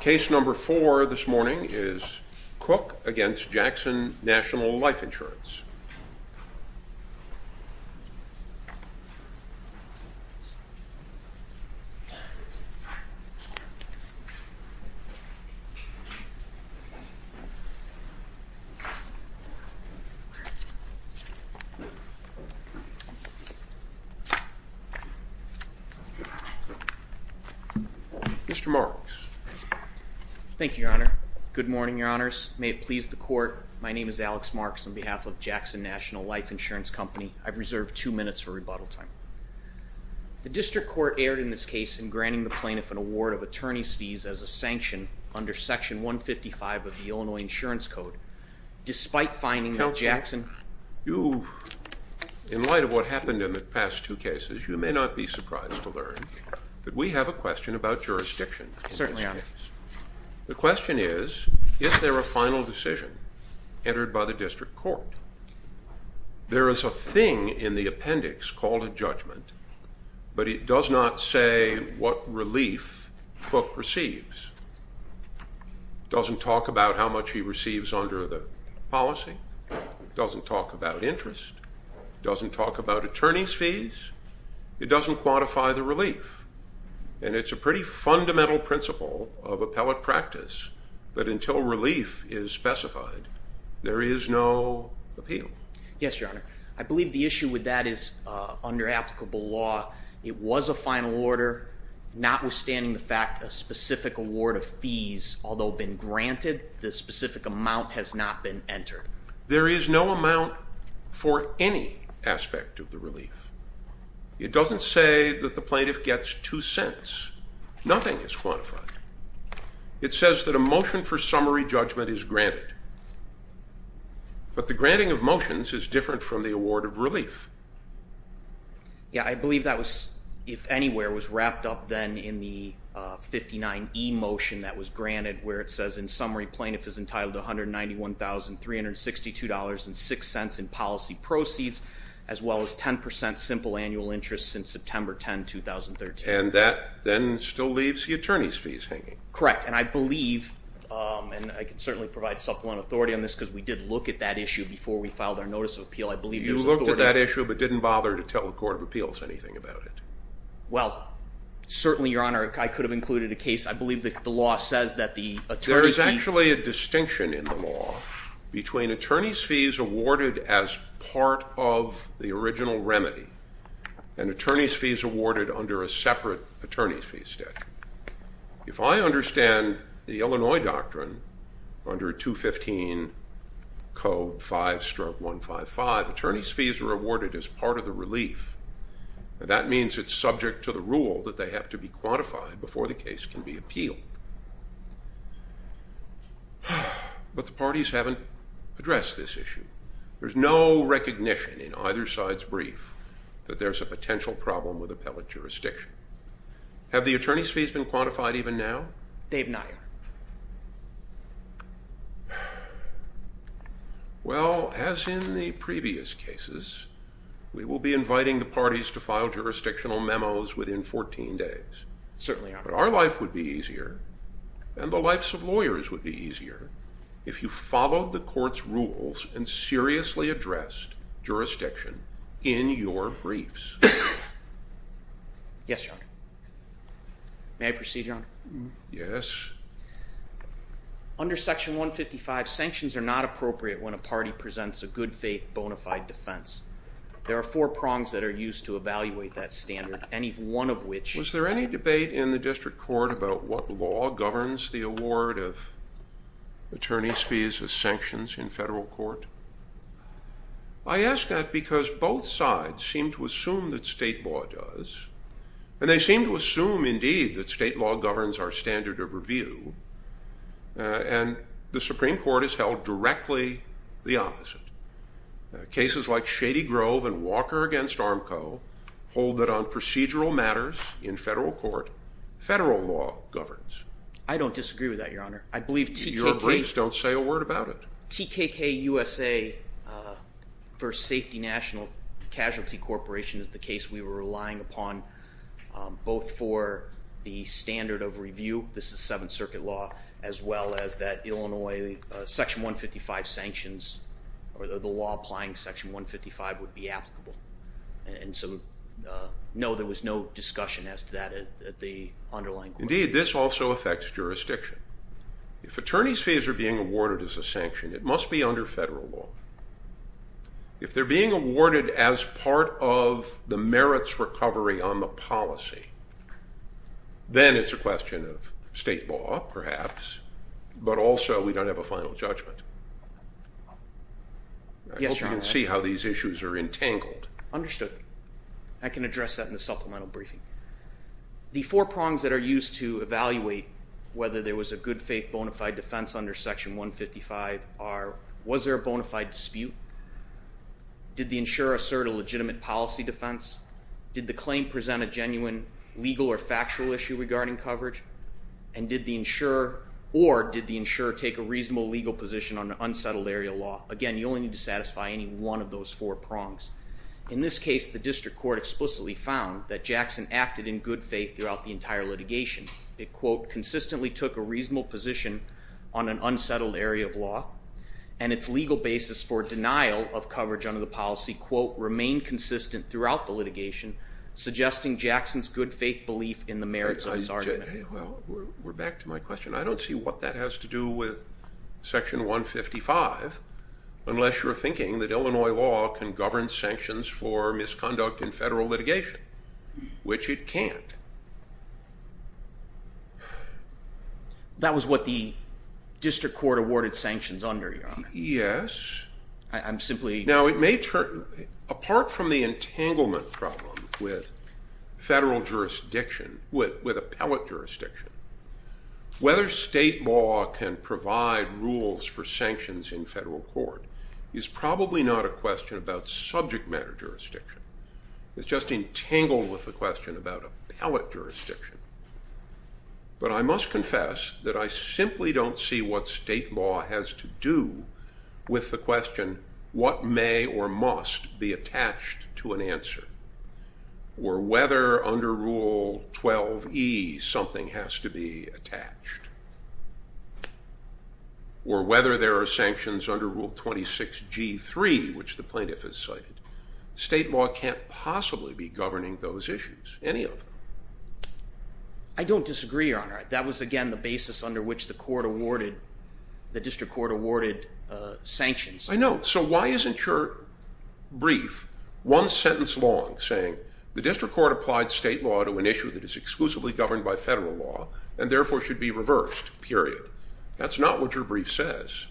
Case number four this morning is Cooke v. Jackson National Life Insurance. Mr. Marks. Thank you, your honor. Good morning, your honors. May it please the court. My name is Alex Marks on behalf of Jackson National Life Insurance Company. I've reserved two minutes for rebuttal time. The district court erred in this case in granting the plaintiff an award of attorney's fees as a sanction under section 155 of the Illinois insurance code despite finding that Jackson. You, in light of what happened in the past two cases, you may not be surprised to learn that we have a question about jurisdiction. Certainly, the question is, is there a final decision entered by the district court? There is a thing in the appendix called a judgment, but it does not say what relief Cooke receives. It doesn't talk about how much he receives under the policy. It doesn't talk about interest. It doesn't talk about attorney's of appellate practice. But until relief is specified, there is no appeal. Yes, your honor. I believe the issue with that is under applicable law. It was a final order, notwithstanding the fact a specific award of fees, although been granted, the specific amount has not been entered. There is no amount for any aspect of the relief. It doesn't say that the plaintiff gets two cents. Nothing is quantified. It says that a motion for summary judgment is granted. But the granting of motions is different from the award of relief. Yeah, I believe that was, if anywhere, was wrapped up then in the 59E motion that was granted where it says in summary plaintiff is entitled to $191,362.06 in policy proceeds as well as 10% simple annual interest since September 10, 2013. And that then still leaves the attorney's fees hanging. Correct, and I believe, and I can certainly provide supplement authority on this because we did look at that issue before we filed our notice of appeal, I believe you looked at that issue but didn't bother to tell the Court of Appeals anything about it. Well, certainly, your honor, I could have included a case. I believe that the law says that the attorney's fee... There is actually a distinction in the law between attorney's fees awarded as part of the original remedy and attorney's fees awarded under a separate attorney's fees statute. If I understand the Illinois doctrine under 215 code 5 stroke 155, attorney's fees are awarded as part of the relief. That means it's subject to the rule that they have to be quantified before the case can be appealed. But the parties haven't addressed this issue. There's no recognition in either side's brief that there's a potential problem with appellate jurisdiction. Have the attorney's fees been quantified even now? They have not, your honor. Well, as in the previous cases, we will be inviting the parties to file jurisdictional memos within 14 days. Certainly, your honor. Our life would be easier and the lives of lawyers would be easier if you followed the rules. Yes, your honor. May I proceed, your honor? Yes. Under section 155, sanctions are not appropriate when a party presents a good-faith bona fide defense. There are four prongs that are used to evaluate that standard, any one of which... Was there any debate in the district court about what law governs the award of attorney's fees as sanctions in federal court? I ask that because both sides seem to assume that state law does, and they seem to assume indeed that state law governs our standard of review, and the Supreme Court has held directly the opposite. Cases like Shady Grove and Walker against Armco hold that on procedural matters in federal court, federal law governs. I don't disagree with that, your honor. I believe TKK... Your briefs don't say a word about it. TKK USA versus Safety National Casualty Corporation is the case we were relying upon both for the standard of review, this is Seventh Circuit law, as well as that Illinois section 155 sanctions or the law applying section 155 would be applicable. And so, no, there was no discussion as to that at the underlying... Indeed, this also affects jurisdiction. If attorney's fees are being awarded as a sanction, it must be under federal law. If they're being awarded as part of the merits recovery on the policy, then it's a question of state law, perhaps, but also we don't have a final judgment. I hope you can see how these issues are entangled. Understood. I can address that in the supplemental briefing. The four prongs that are used to evaluate whether there was a good faith bona fide defense under section 155 are, was there a bona fide dispute? Did the insurer assert a legitimate policy defense? Did the claim present a genuine legal or factual issue regarding coverage? And did the insurer, or did the insurer take a reasonable legal position on an unsettled area law? Again, you only need to satisfy any one of those four prongs. In this case, the litigation, it, quote, consistently took a reasonable position on an unsettled area of law, and its legal basis for denial of coverage under the policy, quote, remain consistent throughout the litigation, suggesting Jackson's good faith belief in the merits of his argument. Well, we're back to my question. I don't see what that has to do with section 155, unless you're thinking that Illinois law can govern sanctions for misconduct in federal court. That was what the district court awarded sanctions under, Your Honor. Yes. I'm simply... Now, it may turn, apart from the entanglement problem with federal jurisdiction, with, with appellate jurisdiction, whether state law can provide rules for sanctions in federal court is probably not a question about subject matter jurisdiction. It's just entangled with the question about appellate jurisdiction. But I must confess that I simply don't see what state law has to do with the question, what may or must be attached to an answer, or whether under Rule 12e, something has to be governing those issues, any of them. I don't disagree, Your Honor. That was, again, the basis under which the court awarded, the district court awarded sanctions. I know. So why isn't your brief one sentence long saying, the district court applied state law to an issue that is exclusively governed by federal law, and therefore should be reversed, period. That's not what your brief says.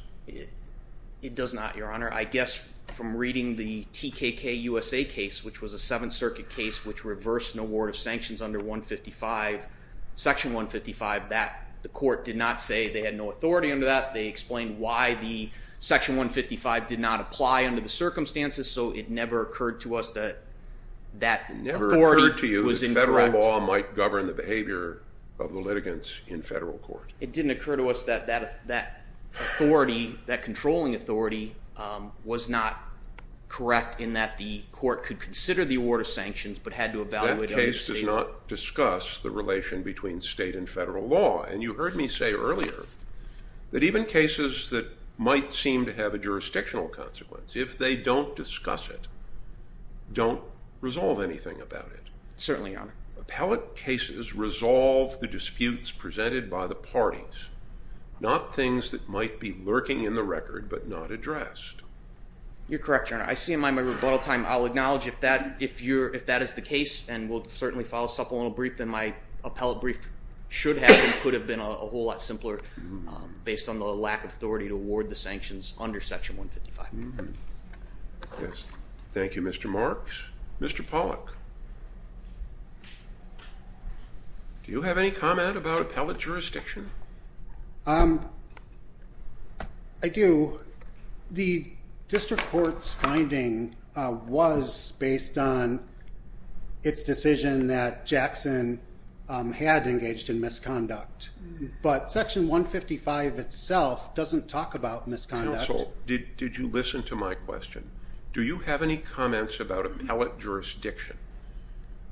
It does not, Your Honor. I guess from reading the TKK-USA case, which was a Seventh Circuit case, which reversed an award of sanctions under 155, Section 155, that the court did not say they had no authority under that. They explained why the Section 155 did not apply under the circumstances. So it never occurred to us that that authority was incorrect. It never occurred to you that federal law might govern the correct in that the court could consider the award of sanctions, but had to evaluate it under state law. That case does not discuss the relation between state and federal law. And you heard me say earlier that even cases that might seem to have a jurisdictional consequence, if they don't discuss it, don't resolve anything about it. Certainly, Your Honor. Appellate cases resolve the disputes presented by the parties, not things that might be lurking in the record, but not addressed. You're correct, Your Honor. I see in my rebuttal time I'll acknowledge if that is the case and will certainly file a supplemental brief, then my appellate brief should have and could have been a whole lot simpler based on the lack of authority to award the sanctions under Section 155. Thank you, Mr. Marks. Mr. Pollack, do you have any comment about appellate jurisdiction? I do. The District Court's finding was based on its decision that Jackson had engaged in misconduct, but Section 155 itself doesn't talk about misconduct. Counsel, did you listen to my question? Do you have any comments about appellate jurisdiction?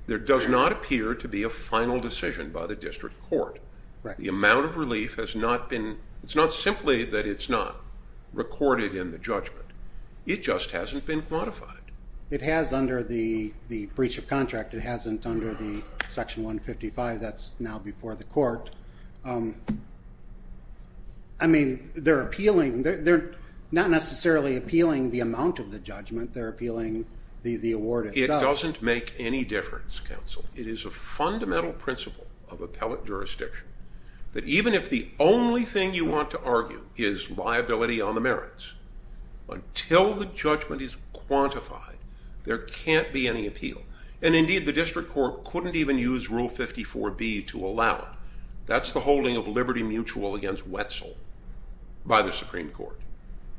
There does not appear to be a final decision by the District Court. The amount of relief has not been, it's not simply that it's not recorded in the judgment. It just hasn't been quantified. It has under the breach of contract. It hasn't under the Section 155. That's now before the court. I mean, they're appealing. They're not necessarily appealing the amount of the judgment. They're appealing the award itself. It doesn't make any difference, Counsel. It is a fundamental principle of appellate jurisdiction that even if the only use Rule 54B to allow it. That's the holding of liberty mutual against Wetzel by the Supreme Court.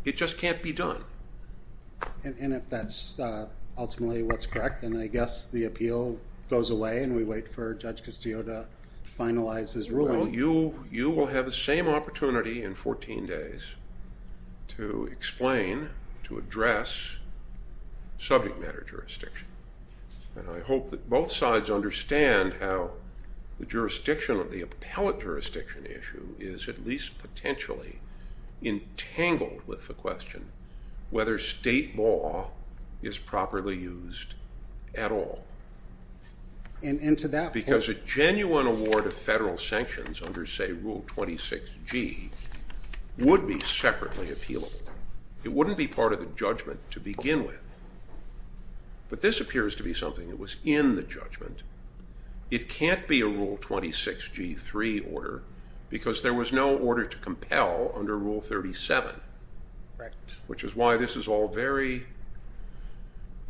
It just can't be done. And if that's ultimately what's correct, then I guess the appeal goes away and we wait for Judge Castillo to finalize his ruling. You will have the same opportunity in 14 days to explain, to both sides understand how the jurisdiction of the appellate jurisdiction issue is at least potentially entangled with the question whether state law is properly used at all. And to that point. Because a genuine award of federal sanctions under say Rule 26G would be separately appealable. It wouldn't be part of judgment to begin with. But this appears to be something that was in the judgment. It can't be a Rule 26G3 order because there was no order to compel under Rule 37, which is why this is all very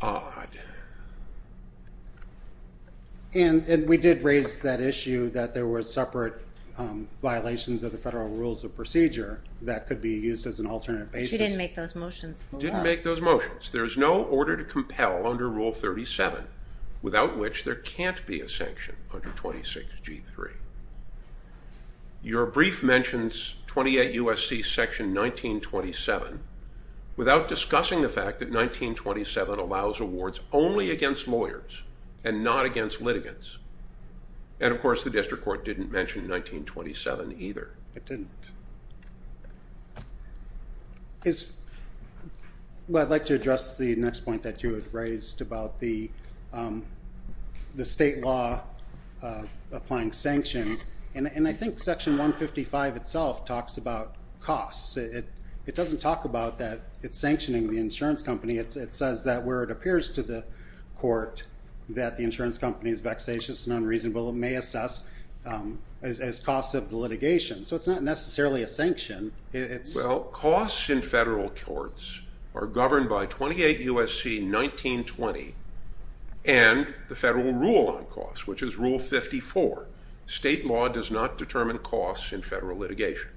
odd. And we did raise that issue that there were separate violations of the federal rules of procedure that could be used as an There is no order to compel under Rule 37 without which there can't be a sanction under 26G3. Your brief mentions 28 U.S.C. Section 1927 without discussing the fact that 1927 allows awards only against lawyers and not against litigants. And of course the district court didn't mention 1927 either. It didn't. Well I'd like to address the next point that you have raised about the state law applying sanctions. And I think Section 155 itself talks about costs. It doesn't talk about that it's sanctioning the insurance company. It says that where it appears to the court that the insurance company is vexatious and unreasonable. It may assess as costs of the litigation. So it's not necessarily a sanction. Well costs in federal courts are governed by 28 U.S.C. 1920 and the federal rule on costs, which is Rule 54. State law does not determine costs in federal litigation.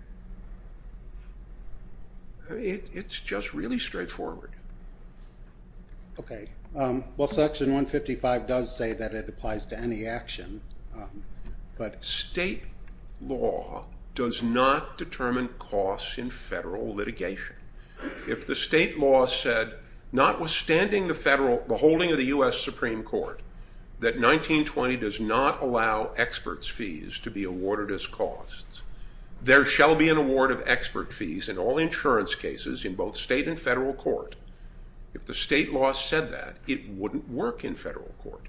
It's just really straightforward. Okay, well Section 155 does say that it applies to any action. State law does not determine costs in federal litigation. If the state law said, notwithstanding the holding of the U.S. Supreme Court, that 1920 does not allow experts fees to be awarded as costs, there shall be an award of expert fees in all insurance cases in both state and federal court. If the state law said that, it wouldn't work in federal court.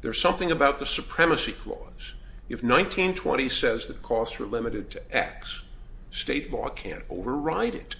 There's something about the supremacy clause. If 1920 says that costs are limited to X, state law can't override it.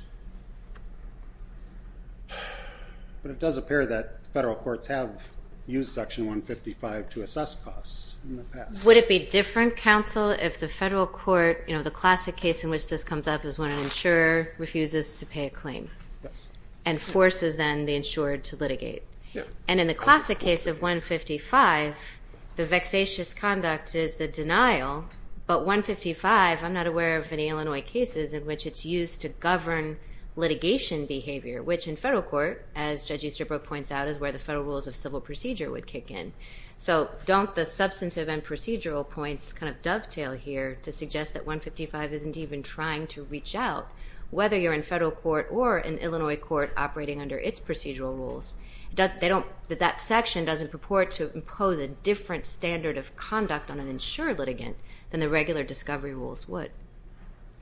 But it does appear that federal courts have used Section 155 to assess costs in the past. Would it be different, counsel, if the federal court, you know the classic case in which this comes up is when an insurer refuses to pay a claim? Yes. And forces then the insurer to litigate. Yeah. And in the classic case of 155, the vexatious conduct is the denial, but 155, I'm not aware of any Illinois cases in which it's used to govern litigation behavior, which in federal court, as Judge Easterbrook points out, is where the federal rules of civil procedure would kick in. So don't the substantive and procedural points kind of dovetail here to suggest that 155 isn't even trying to reach out, whether you're in federal court or an Illinois court operating under its procedural rules. That section doesn't purport to impose a different standard of conduct on an insured litigant than the regular discovery rules would.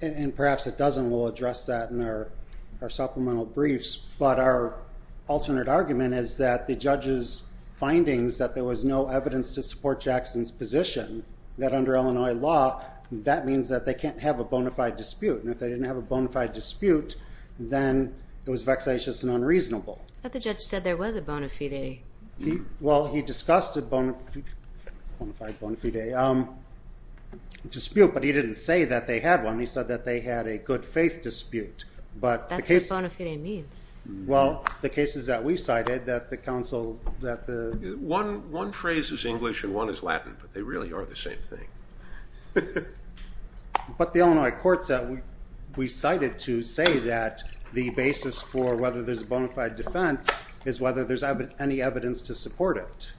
And perhaps it doesn't. We'll address that in our supplemental briefs. But our alternate argument is that the judge's findings that there was no evidence to support Jackson's position, that under Illinois law, that means that they can't have a bona fide dispute. And if they didn't have a bona fide dispute, then it was vexatious and unreasonable. But the judge said there was a bona fide. Well, he discussed a bona fide dispute, but he didn't say that they had one. He said that they had a good faith dispute. That's what bona fide means. Well, the cases that we cited, that the council, that the... One phrase is English and one is Latin, but they really are the same thing. But the Illinois courts that we cited to say that the basis for whether there's a bona fide defense is whether there's any evidence to support it.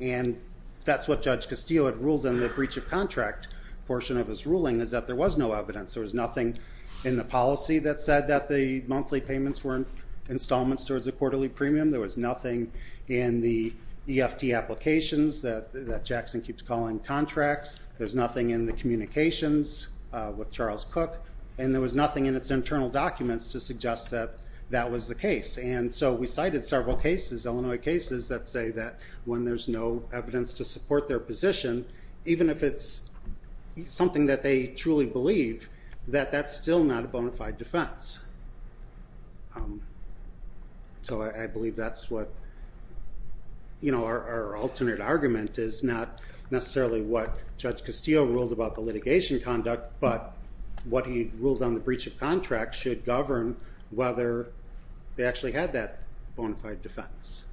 And that's what Judge Castillo had ruled in the breach of contract portion of his ruling, is that there was no evidence. There was nothing in the policy that said that the monthly payments were installments towards a quarterly premium. There was nothing in the EFT applications that Jackson keeps calling contracts. There's nothing in the communications with Charles Cook. And there was nothing in its internal documents to suggest that that was the case. And so we cited several cases, Illinois cases, that say that when there's no evidence to support their position, even if it's something that they truly believe, that that's still not a bona fide defense. So I believe that's what... You know, our alternate argument is not necessarily what Judge Castillo ruled about the litigation conduct, but what he ruled on the breach of contract should govern whether they actually had that bona fide defense.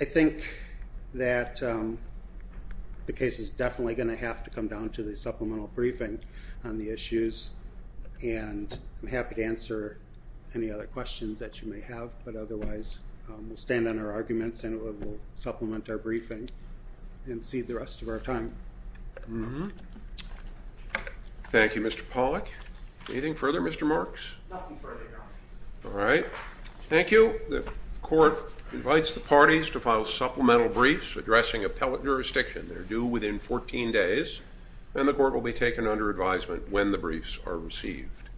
I think that the case is definitely going to have to come down to the supplemental briefing on the issues, and I'm happy to answer any other questions that you may have, but otherwise we'll stand on our arguments and we'll supplement our briefing and see the rest of our time. Thank you, Mr. Pollack. Anything further, Mr. Marks? Nothing further, Your Honor. All right. Thank you. The court invites the parties to file supplemental briefs addressing appellate jurisdiction. They're due within 14 days, and the court will be taken under advisement when the briefs are received.